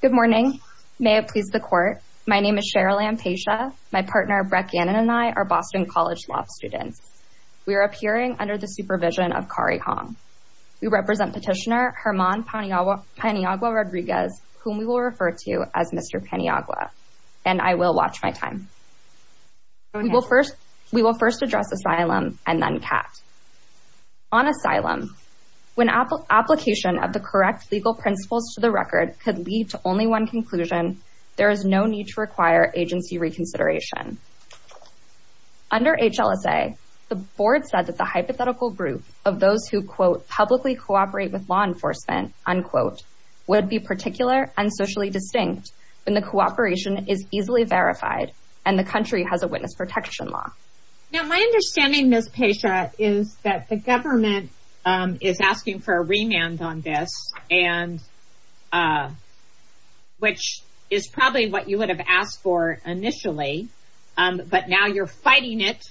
Good morning. May it please the court. My name is Cheryl Ampasha. My partner, Brett Gannon, and I are Boston College Law students. We are appearing under the supervision of Kari Hong. We represent petitioner Germán Paniagua-Rodriguez, whom we will refer to as Mr. Paniagua, and I will watch my time. We will first address asylum and then CAT. On asylum, when application of the correct legal principles to the record could lead to only one conclusion, there is no need to require agency reconsideration. Under HLSA, the board said that the hypothetical group of those who, quote, publicly cooperate with law enforcement, unquote, would be particular and socially distinct when the cooperation is easily verified and the country has protection law. Now, my understanding, Ms. Pasha, is that the government is asking for a remand on this and which is probably what you would have asked for initially, but now you're fighting it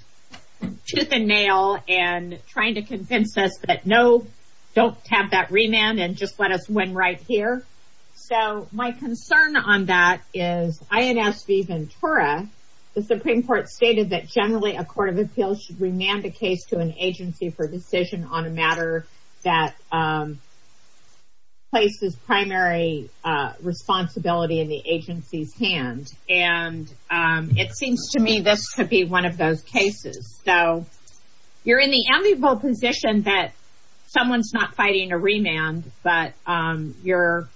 tooth and nail and trying to convince us that, no, don't have that remand and just let us win right here. So, my concern on that is INS V. Ventura, the Supreme Court stated that generally a court of appeals should remand a case to an agency for decision on a matter that places primary responsibility in the agency's hand, and it seems to me this could be one of those cases. So, you're in the enviable position that someone's not fighting a remand, but you're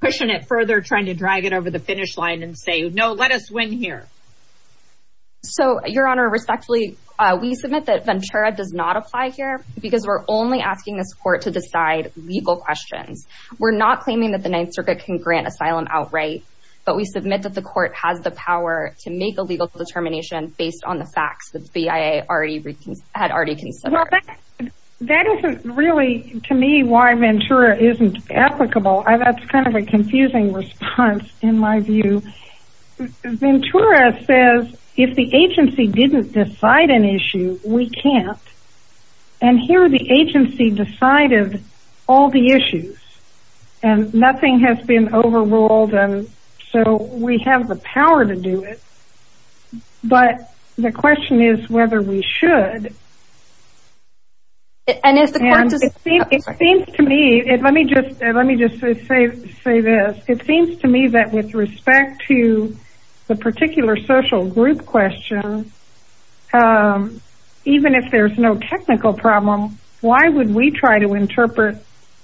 pushing it further, trying to drag it over the finish line and say, no, let us win here. So, Your Honor, respectfully, we submit that Ventura does not apply here because we're only asking this court to decide legal questions. We're not claiming that the Ninth Circuit can grant asylum outright, but we submit that the court has the power to make a legal determination based on the facts that the BIA had already considered. Well, that isn't really, to me, why Ventura isn't applicable. That's kind of a confusing response, in my view. Ventura says if the agency didn't decide an issue, we can't, and here the agency decided all the issues, and nothing has been determined. It seems to me that with respect to the particular social group question, even if there's no technical problem, why would we try to interpret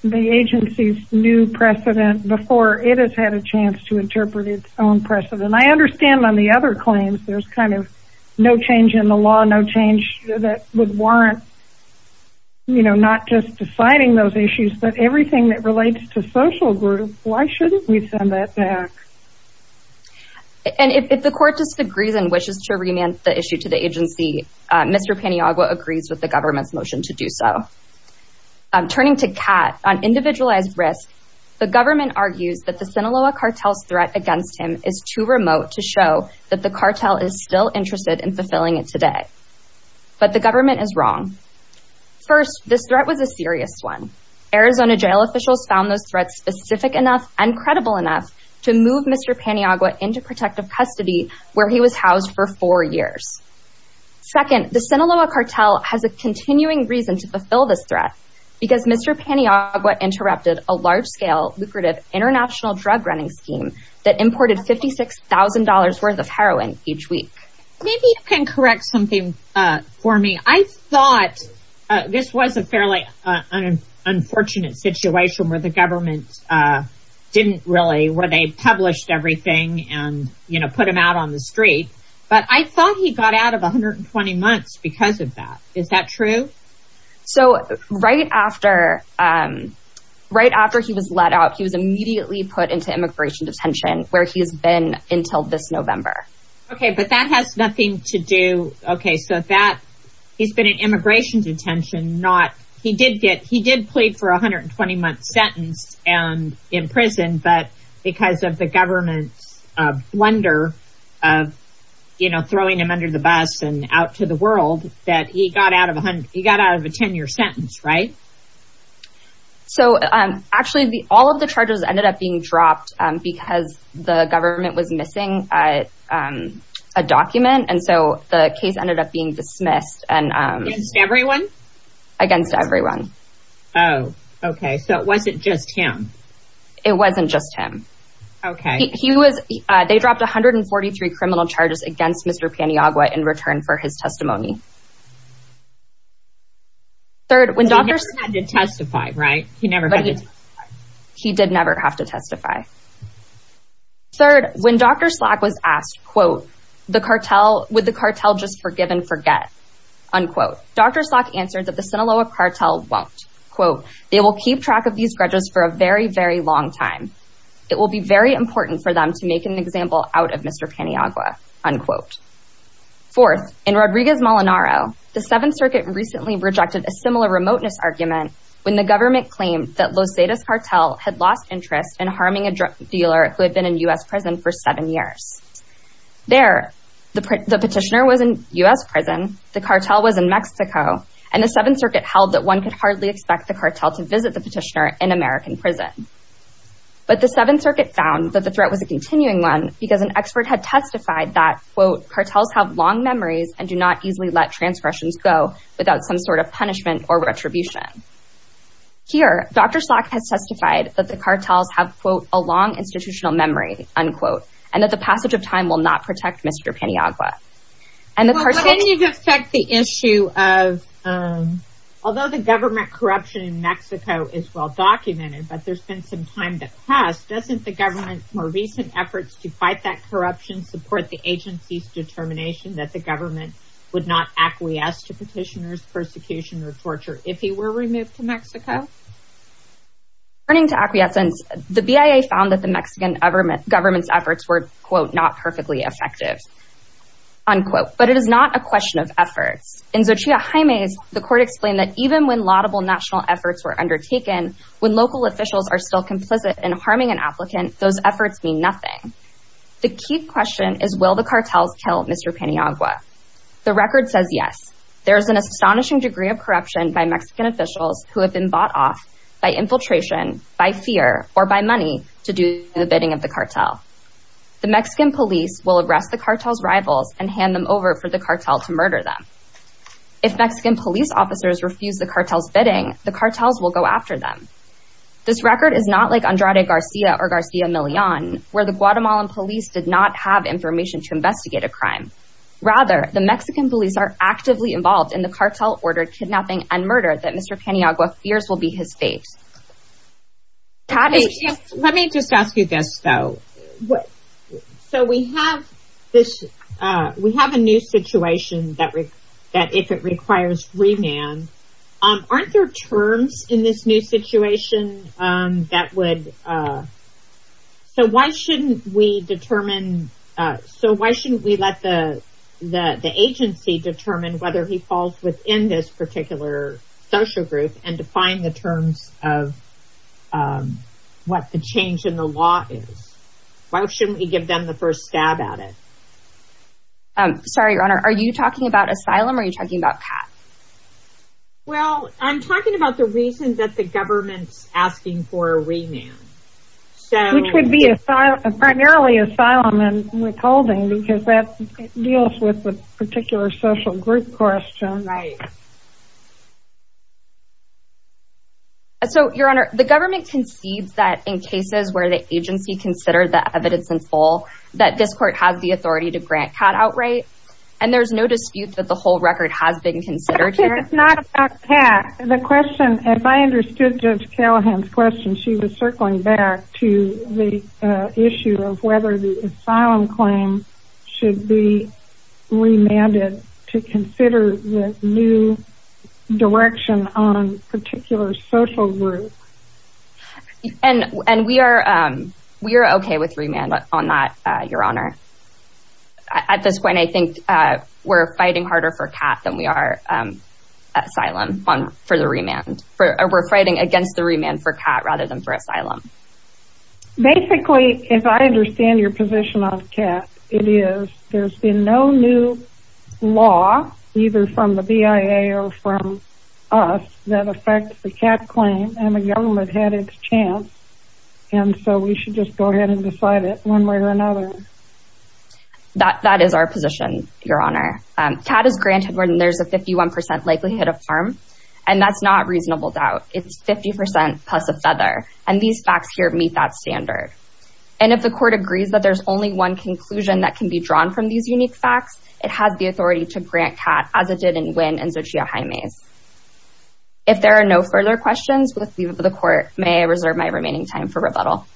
the agency's new precedent before it has had a chance to interpret its own precedent? I understand on the other claims, there's kind of no change in the law, no change that would warrant, you know, not just deciding those issues, but everything that relates to social groups. Why shouldn't we send that back? And if the court just agrees and wishes to remand the issue to the agency, Mr. Paniagua agrees with the government's motion to do so. Turning to Kat, on individualized risk, the government argues that the Sinaloa cartel's threat against him is too remote to show that the cartel is still interested in fulfilling it today. But the government is wrong. First, this threat was a serious one. Arizona jail officials found those threats specific enough and credible enough to move Mr. Paniagua into protective custody where he was housed for four years. Second, the Sinaloa cartel has a continuing reason to fulfill this threat, because Mr. Paniagua interrupted a large-scale lucrative international drug-running scheme that imported $56,000 worth of heroin each week. Maybe you can correct something for me. I thought this was a fairly unfortunate situation where the government didn't really, where they published everything and, you know, put him out on the street. But I thought he got out of 120 months because of that. Is that true? So right after he was let out, he was immediately put into immigration detention, where he's been until this November. Okay, but that has nothing to do, okay, so that, he's been in immigration detention, not, he did get, he did plead for a 120-month sentence and in prison, but because of the government's blunder of, you know, throwing him under the bus and out to the world, that he got out of 100, he got out of a 10-year sentence, right? So, actually, all of the charges ended up being dropped because the government was missing a document, and so the case ended up being dismissed. Against everyone? Against everyone. Oh, okay, so it wasn't just him. It wasn't just him. Okay. He was, they dropped 143 He never had to testify, right? He never had to testify. He did never have to testify. Third, when Dr. Slack was asked, quote, the cartel, would the cartel just forgive and forget? Unquote. Dr. Slack answered that the Sinaloa cartel won't. Quote, they will keep track of these grudges for a very, very long time. It will be very important for them to make an example out of Mr. Paniagua. Unquote. Fourth, in Rodriguez Molinaro, the Seventh Circuit recently rejected a similar remoteness argument when the government claimed that Loseda's cartel had lost interest in harming a drug dealer who had been in U.S. prison for seven years. There, the petitioner was in U.S. prison, the cartel was in Mexico, and the Seventh Circuit held that one could hardly expect the cartel to visit the petitioner in American prison. But the Seventh Circuit found that the threat was a continuing one because an expert had testified that, quote, cartels have long memories and do not easily let transgressions go without some sort of punishment or retribution. Here, Dr. Slack has testified that the cartels have, quote, a long institutional memory, unquote, and that the passage of time will not protect Mr. Paniagua. And the cartel- Can you affect the issue of, although the government corruption in Mexico is well documented, but there's been some time that passed, doesn't the government's more recent efforts to fight corruption support the agency's determination that the government would not acquiesce to petitioner's persecution or torture if he were removed to Mexico? Turning to acquiescence, the BIA found that the Mexican government's efforts were, quote, not perfectly effective, unquote. But it is not a question of efforts. In Xochitl Jaime's, the court explained that even when laudable national efforts were undertaken, when local officials are still complicit in harming an applicant, those efforts mean nothing. The key question is, will the cartels kill Mr. Paniagua? The record says yes. There is an astonishing degree of corruption by Mexican officials who have been bought off by infiltration, by fear, or by money to do the bidding of the cartel. The Mexican police will arrest the cartel's rivals and hand them over for the cartel to murder them. If Mexican police officers refuse the cartel's bidding, the cartels will go after them. This record is not like Andrade Garcia or have information to investigate a crime. Rather, the Mexican police are actively involved in the cartel-ordered kidnapping and murder that Mr. Paniagua fears will be his fate. Let me just ask you this, though. So we have this, we have a new situation that, that if it requires remand, aren't there terms in this new situation that would, uh, so why shouldn't we determine, uh, so why shouldn't we let the, the, the agency determine whether he falls within this particular social group and define the terms of, um, what the change in the law is? Why shouldn't we give them the first stab at it? Um, sorry, your honor, are you talking about asylum or are you talking about CAAT? Well, I'm talking about the reason that the government's asking for a remand. Which would be asylum, primarily asylum and withholding, because that deals with the particular social group question. Right. So, your honor, the government concedes that in cases where the agency considered the evidence in full, that this court has the authority to grant CAAT outright, and there's no dispute that whole record has been considered here. It's not about CAAT. The question, as I understood Judge Callahan's question, she was circling back to the issue of whether the asylum claim should be remanded to consider the new direction on particular social groups. And, and we are, um, we are okay with remand on that, uh, your honor. At this point, I think, uh, we're fighting harder for CAAT than we are, um, asylum on, for the remand. We're fighting against the remand for CAAT rather than for asylum. Basically, if I understand your position on CAAT, it is there's been no new law, either from the BIA or from us, that affects the CAAT claim and the government had its chance, and so we should just go ahead and decide it one way or another. That, that is our position, your honor. CAAT is granted when there's a 51% likelihood of harm, and that's not reasonable doubt. It's 50% plus a feather, and these facts here meet that standard. And if the court agrees that there's only one conclusion that can be drawn from these unique facts, it has the authority to grant CAAT as it did in Nguyen and Xochitl Jaime's. If there are no further questions, with leave of the court, may I reserve my remaining time for rebuttal?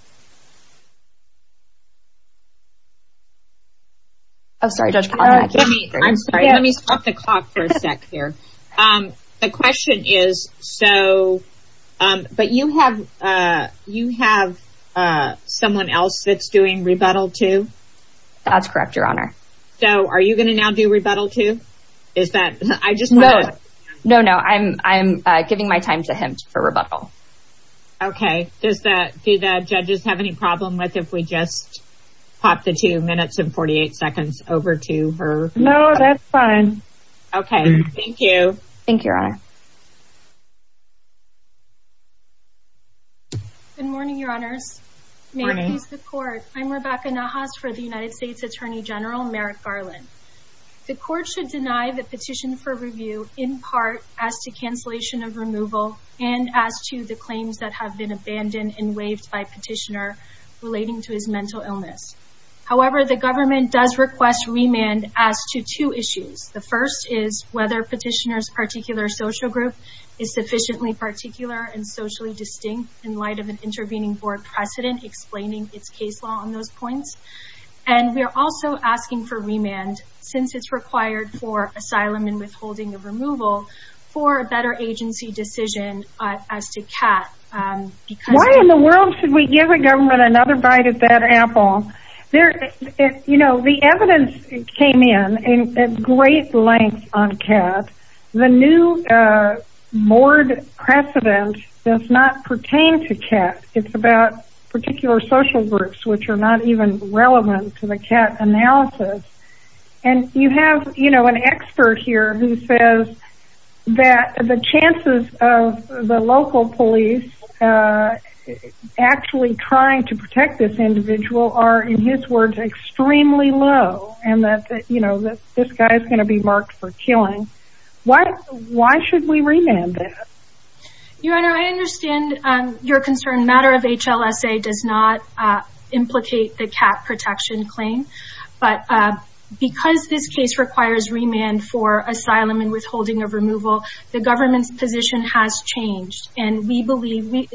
Oh, sorry, Judge, I'm sorry. Let me stop the clock for a sec here. Um, the question is, so, um, but you have, uh, you have, uh, someone else that's doing rebuttal too? That's correct, your honor. So, are you going to now do rebuttal too? Is that, I just know, no, no, I'm, I'm, uh, giving my time to him for rebuttal. Okay, does that, do the judges have any problem with if we just pop the two minutes and 48 seconds over to her? No, that's fine. Okay, thank you. Thank you, your honor. Good morning, your honors. May it please the court. I'm Rebecca Nahas for the United States Attorney General Merrick Garland. The court should deny the petition for review in part as to cancellation of removal and as to the claims that have been abandoned and waived by petitioner relating to his mental illness. However, the government does request remand as to two issues. The first is whether petitioner's particular social group is sufficiently particular and socially distinct in light of an intervening board precedent explaining its case law on those points. And we are also asking for remand, since it's required for asylum and withholding of another bite at that apple. There, you know, the evidence came in in great length on cat. The new board precedent does not pertain to cat. It's about particular social groups, which are not even relevant to the cat analysis. And you have, you know, an expert here who says that the chances of the local police actually trying to protect this individual are, in his words, extremely low and that, you know, that this guy is going to be marked for killing. Why, why should we remand that? Your honor, I understand your concern. Matter of HLSA does not implicate the cat protection claim. But because this case requires remand for asylum and withholding of removal, the government's position has changed. And we believe,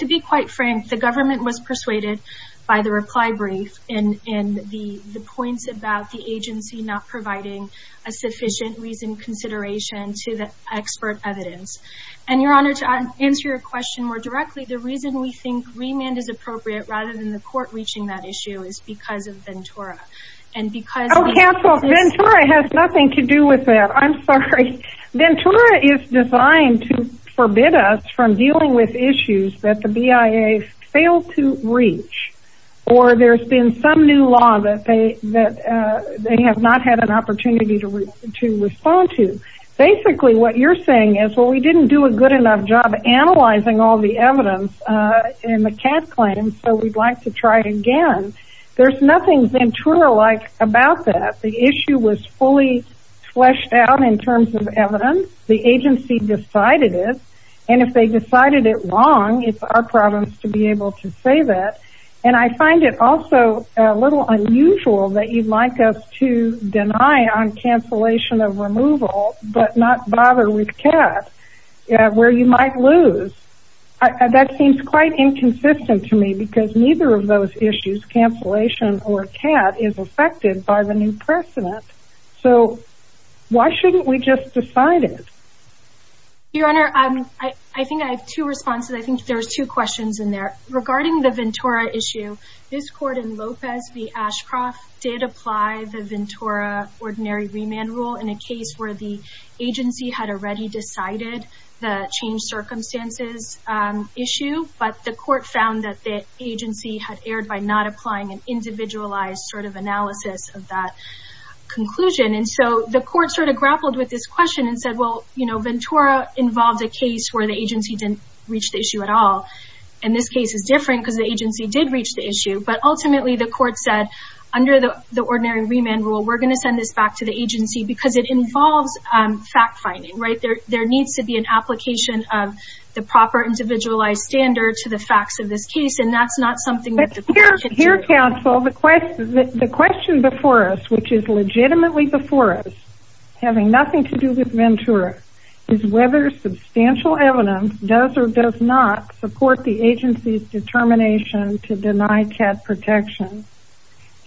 to be quite frank, the government was persuaded by the reply brief and the points about the agency not providing a sufficient reasoned consideration to the expert evidence. And your honor, to answer your question more directly, the reason we think remand is appropriate rather than the court reaching that issue is because of Ventura. And because... Oh, counsel, Ventura has nothing to do with that. I'm sorry. Ventura is designed to forbid us from dealing with issues that the BIA failed to reach or there's been some new law that they have not had an opportunity to respond to. Basically, what you're saying is, well, we didn't do a good enough job analyzing all the evidence in the cat claim, so we'd like to try again. There's nothing Ventura-like about that. The in terms of evidence, the agency decided it. And if they decided it wrong, it's our problems to be able to say that. And I find it also a little unusual that you'd like us to deny on cancellation of removal but not bother with cat where you might lose. That seems quite inconsistent to me because neither of those issues, cancellation or cat, is affected by the new precedent. So, why shouldn't we just decide it? Your honor, I think I have two responses. I think there's two questions in there. Regarding the Ventura issue, this court in Lopez v. Ashcroft did apply the Ventura ordinary remand rule in a case where the agency had already decided the change of circumstances issue. But the court found that the agency had erred by not applying an individualized sort of analysis of that conclusion. And so, the court sort of grappled with this question and said, well, Ventura involved a case where the agency didn't reach the issue at all. And this case is different because the agency did reach the issue. But ultimately, the court said, under the ordinary remand rule, we're going to send this back to the agency because it involves fact-finding. There needs to be an application of the proper individualized standard to the facts of this case. And that's not something that the court can do. But here, counsel, the question before us, which is legitimately before us, having nothing to do with Ventura, is whether substantial evidence does or does not support the agency's determination to deny cat protection.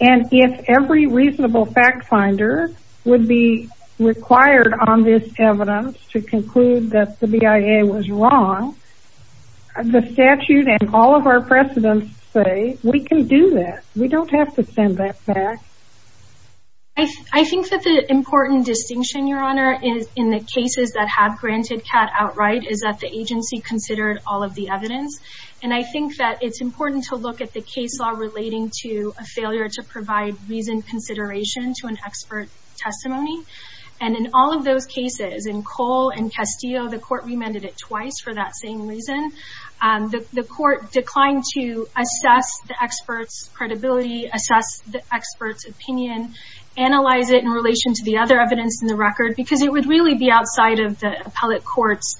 And if every reasonable fact-finder would be required on this evidence to conclude that the BIA was wrong, the statute and all of our precedents say we can do that. We don't have to send that back. I think that the important distinction, Your Honor, in the cases that have granted cat outright is that the agency considered all of the evidence. And I think that it's a failure to provide reasoned consideration to an expert testimony. And in all of those cases, in Cole and Castillo, the court remanded it twice for that same reason. The court declined to assess the expert's credibility, assess the expert's opinion, analyze it in relation to the other evidence in the record, because it would really be outside of the appellate court's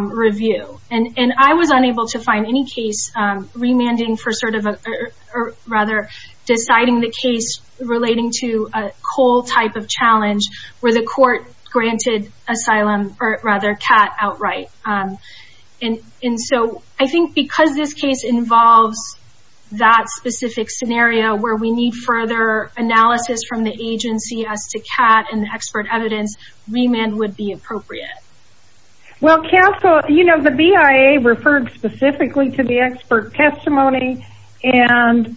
review. And I was unable to find any case remanding for sort of, or rather, deciding the case relating to a Cole type of challenge where the court granted asylum, or rather, cat outright. And so I think because this case involves that specific scenario where we need further analysis from the agency as to cat and expert evidence, remand would be appropriate. Well, Castle, you know, the BIA referred specifically to the expert testimony and,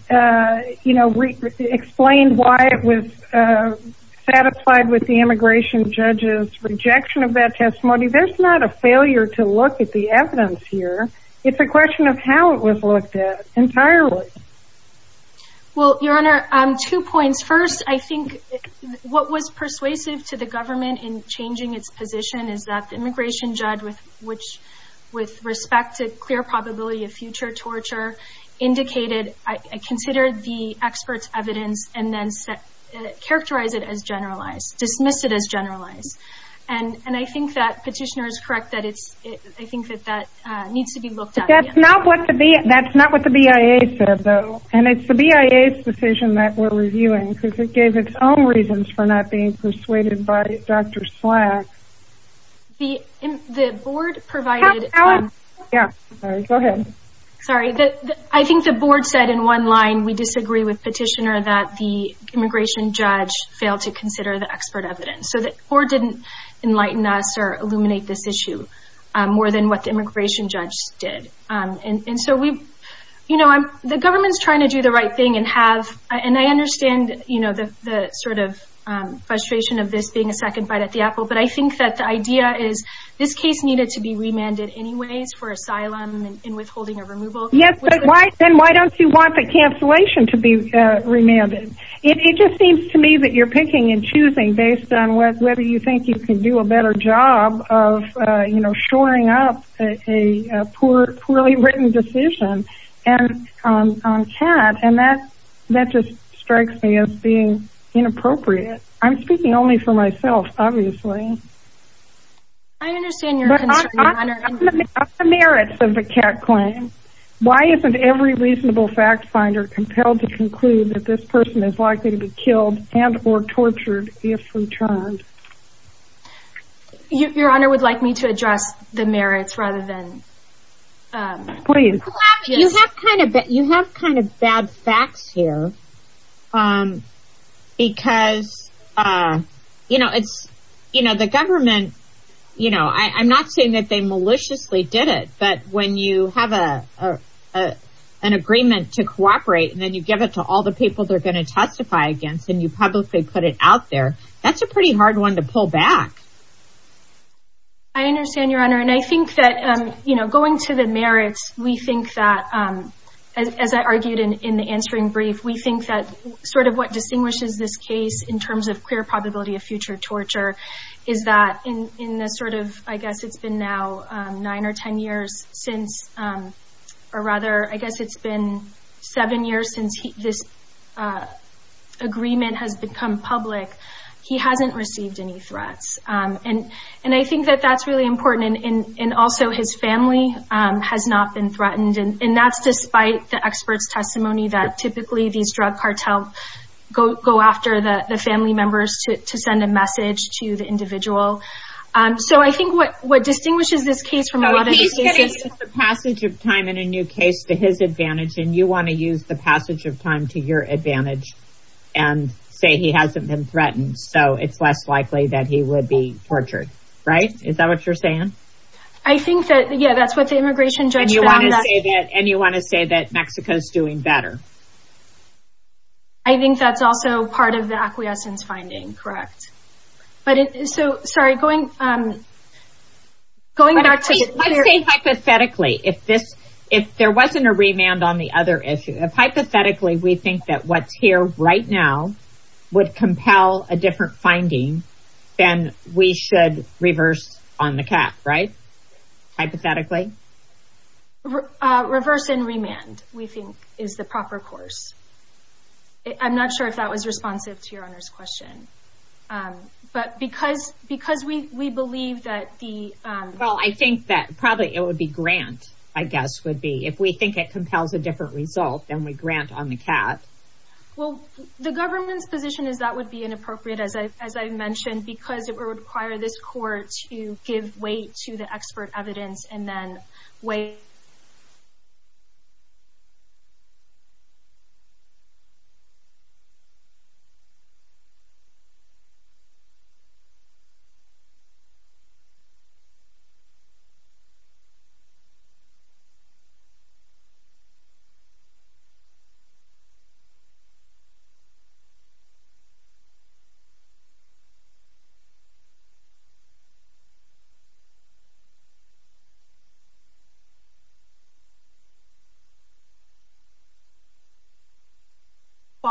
you know, explained why it was satisfied with the immigration judge's rejection of that testimony. There's not a failure to look at the evidence here. It's a question of how it was looked at entirely. Well, Your Honor, two points. First, I think what was persuasive to the government in that the immigration judge, which, with respect to clear probability of future torture, indicated, considered the expert's evidence and then characterized it as generalized, dismissed it as generalized. And I think that petitioner is correct that it's, I think that that needs to be looked at. That's not what the BIA said, though. And it's the BIA's decision that we're reviewing because it gave its own reasons for not being persuaded by Dr. Slack. The board provided. Yeah, go ahead. Sorry. I think the board said in one line, we disagree with petitioner that the immigration judge failed to consider the expert evidence. So the board didn't enlighten us or illuminate this issue more than what the immigration judge did. And so we, you know, the government's trying to do the right thing and have, and I understand, you know, the sort of frustration of this being a second bite at the apple, but I think that the idea is this case needed to be remanded anyways for asylum and withholding or removal. Yes. Why? Then why don't you want the cancellation to be remanded? It just seems to me that you're picking and choosing based on whether you think you can do a better job of, you know, shoring up a poor, poorly written decision on CAT. And that, that just strikes me as being inappropriate. I'm speaking only for myself, obviously. I understand your merits of the CAT claim. Why isn't every reasonable fact finder compelled to conclude that this person is likely to be killed and or tortured if returned? Your honor would like me to address the merits rather than. Please. You have kind of, you have kind of bad facts here. Because, you know, it's, you know, the government, you know, I'm not saying that they maliciously did it, but when you have a, an agreement to cooperate and then you give it to all the people they're going to testify against and you publicly put it out there, that's a pretty hard one to pull back. I understand your honor. And I think that, you know, going to the merits, we think that, as I argued in the answering brief, we think that sort of what distinguishes this case in terms of queer probability of future torture is that in, in the sort of, I guess it's been now nine or 10 years since, or rather, I guess it's been seven years since this agreement has become public, he hasn't received any threats. And, and I think that that's really important. And, and also his family has not been threatened. And that's despite the expert's testimony that typically these drug cartels go, go after the family members to, to send a message to the individual. So I think what, what distinguishes this case from a lot of cases is the passage of time in a new case to his advantage. And you want to use the passage of time to your advantage and say he hasn't been so it's less likely that he would be tortured. Right. Is that what you're saying? I think that, yeah, that's what the immigration judge said. And you want to say that Mexico is doing better. I think that's also part of the acquiescence finding. Correct. But so sorry, going, going back to hypothetically, if this, if there wasn't a remand on the other issue, hypothetically, we think that what's here right now would compel a different finding, then we should reverse on the cap, right? Hypothetically? Reverse and remand, we think, is the proper course. I'm not sure if that was responsive to your Honor's question. But because, because we, we believe that the, well, I think that probably it would be grant, I guess, would be if we think it compels a different result, then we grant on the cap. Well, the government's position is that would be inappropriate, as I, as I mentioned, because it would require this court to give weight to the expert evidence and then wait. So,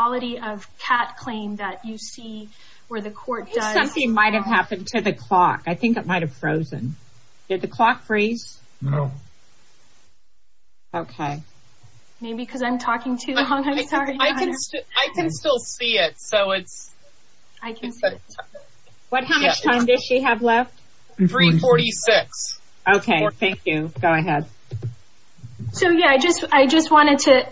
quality of cap claim that you see where the court does, something might have happened to the clock. I think it might have frozen. Did the clock freeze? No. Okay. Maybe because I'm talking too long. I'm sorry. I can, I can still see it. So it's, I can see it. What, how much time does she have left? 346. Okay, thank you. Go ahead. So, yeah, I just, I just wanted to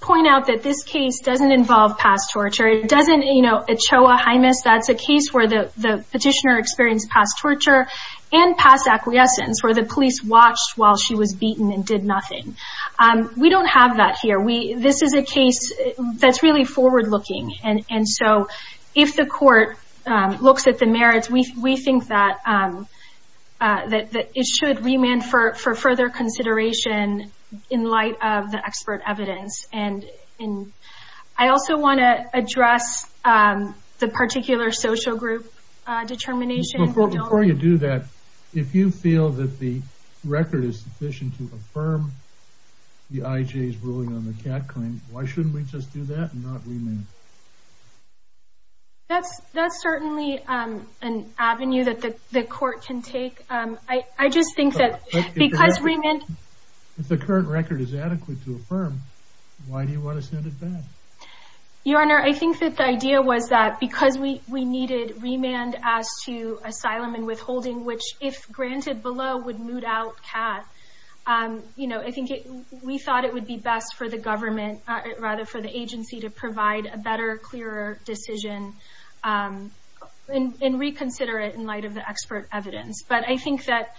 point out that this case doesn't involve past torture. It doesn't, you know, ECHOA, HIMIS, that's a case where the, the petitioner experienced past torture and past acquiescence, where the police watched while she was beaten and did nothing. We don't have that here. We, this is a case that's really forward looking. And, and so, if the court looks at the merits, we, we think that, that, that it should remand for, for further consideration in light of the expert evidence. And, and I also want to address the particular social group determination. Before you do that, if you feel that the record is sufficient to affirm the IJ's ruling on the cat claim, why shouldn't we just do that and not remand? That's, that's certainly an avenue that the court can take. I, I just think that because remand. If the current record is adequate to affirm, why do you want to send it back? Your Honor, I think that the idea was that because we, we needed remand as to asylum and withholding, which if granted below would moot out cat. You know, I think we thought it would be best for the government, rather for the agency to provide a better, clearer decision and reconsider it in light of the expert evidence. But I think that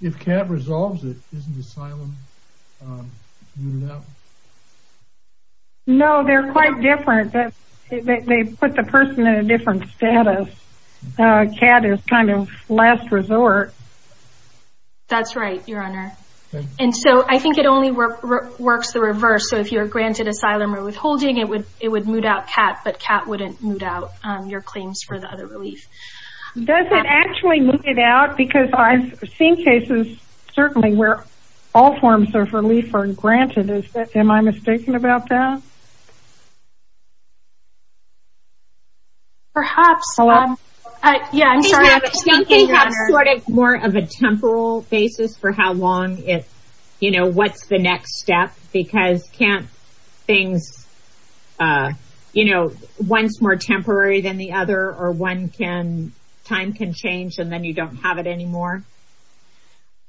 If cat resolves it, isn't asylum mooted out? No, they're quite different. They put the person in a different status. Cat is kind of last resort. That's right, Your Honor. And so I think it only works the reverse. So if you're granted asylum or withholding, it would, it would moot out cat, but cat wouldn't moot out your claims for the relief. Does it actually moot it out? Because I've seen cases, certainly where all forms of relief are granted. Is that, am I mistaken about that? Perhaps. Yeah, I'm sorry. Do you think they have sort of more of a temporal basis for how long it, you know, what's the next step? Because can't things, you know, one's more temporary than the other, or one can, time can change, and then you don't have it anymore.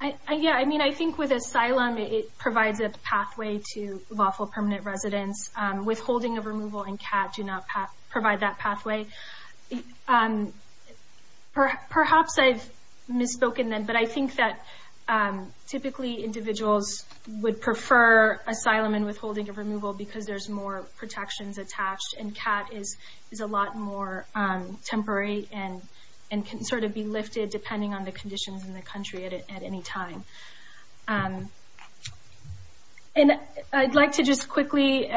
Yeah, I mean, I think with asylum, it provides a pathway to lawful permanent residence. Withholding of removal and cat do not provide that pathway. Perhaps I've misspoken then, but I think that typically individuals would prefer asylum and withholding of removal because there's more protections attached, and cat is a lot more temporary and can sort of be lifted depending on the conditions in the country at any time. And I'd like to just quickly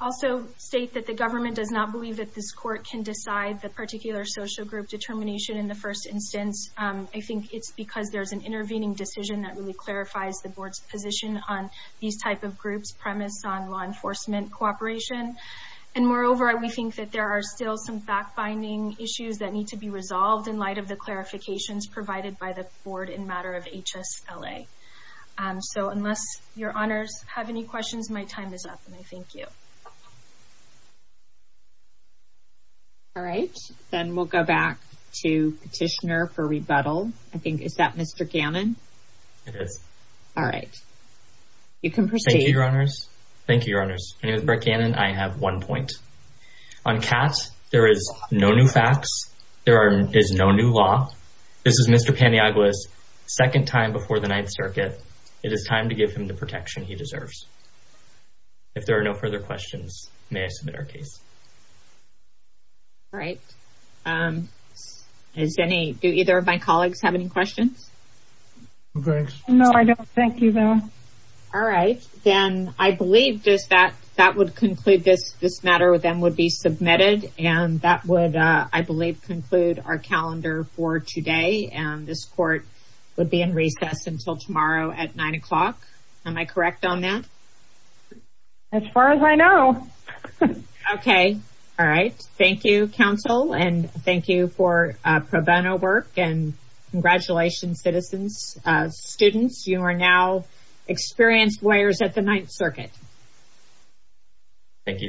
also state that the government does not believe that this court can decide the particular social group determination in the first instance. I think it's because there's intervening decision that really clarifies the board's position on these type of groups premise on law enforcement cooperation. And moreover, we think that there are still some fact-binding issues that need to be resolved in light of the clarifications provided by the board in matter of HSLA. So unless your honors have any questions, my time is up, and I thank you. All right, then we'll go back to petitioner for rebuttal. I think, is that Mr. Gannon? It is. All right, you can proceed. Thank you, your honors. Thank you, your honors. My name is Brett Gannon. I have one point. On cat, there is no new facts. There is no new law. This is Mr. Paniagua's second time before the Ninth Circuit. It is time to give him the protection he deserves. If there are no further questions, may I submit our case? All right. Do either of my colleagues have any questions? No, I don't. Thank you, though. All right, then I believe that would conclude this matter with them would be submitted, and that would, I believe, conclude our calendar for today. And this court would be in recess until tomorrow at 9 o'clock. Am I correct on that? As far as I know. Okay. All right. Thank you, counsel, and thank you for pro bono work, and congratulations, citizens, students. You are now experienced lawyers at the Ninth Circuit. Thank you, your honors.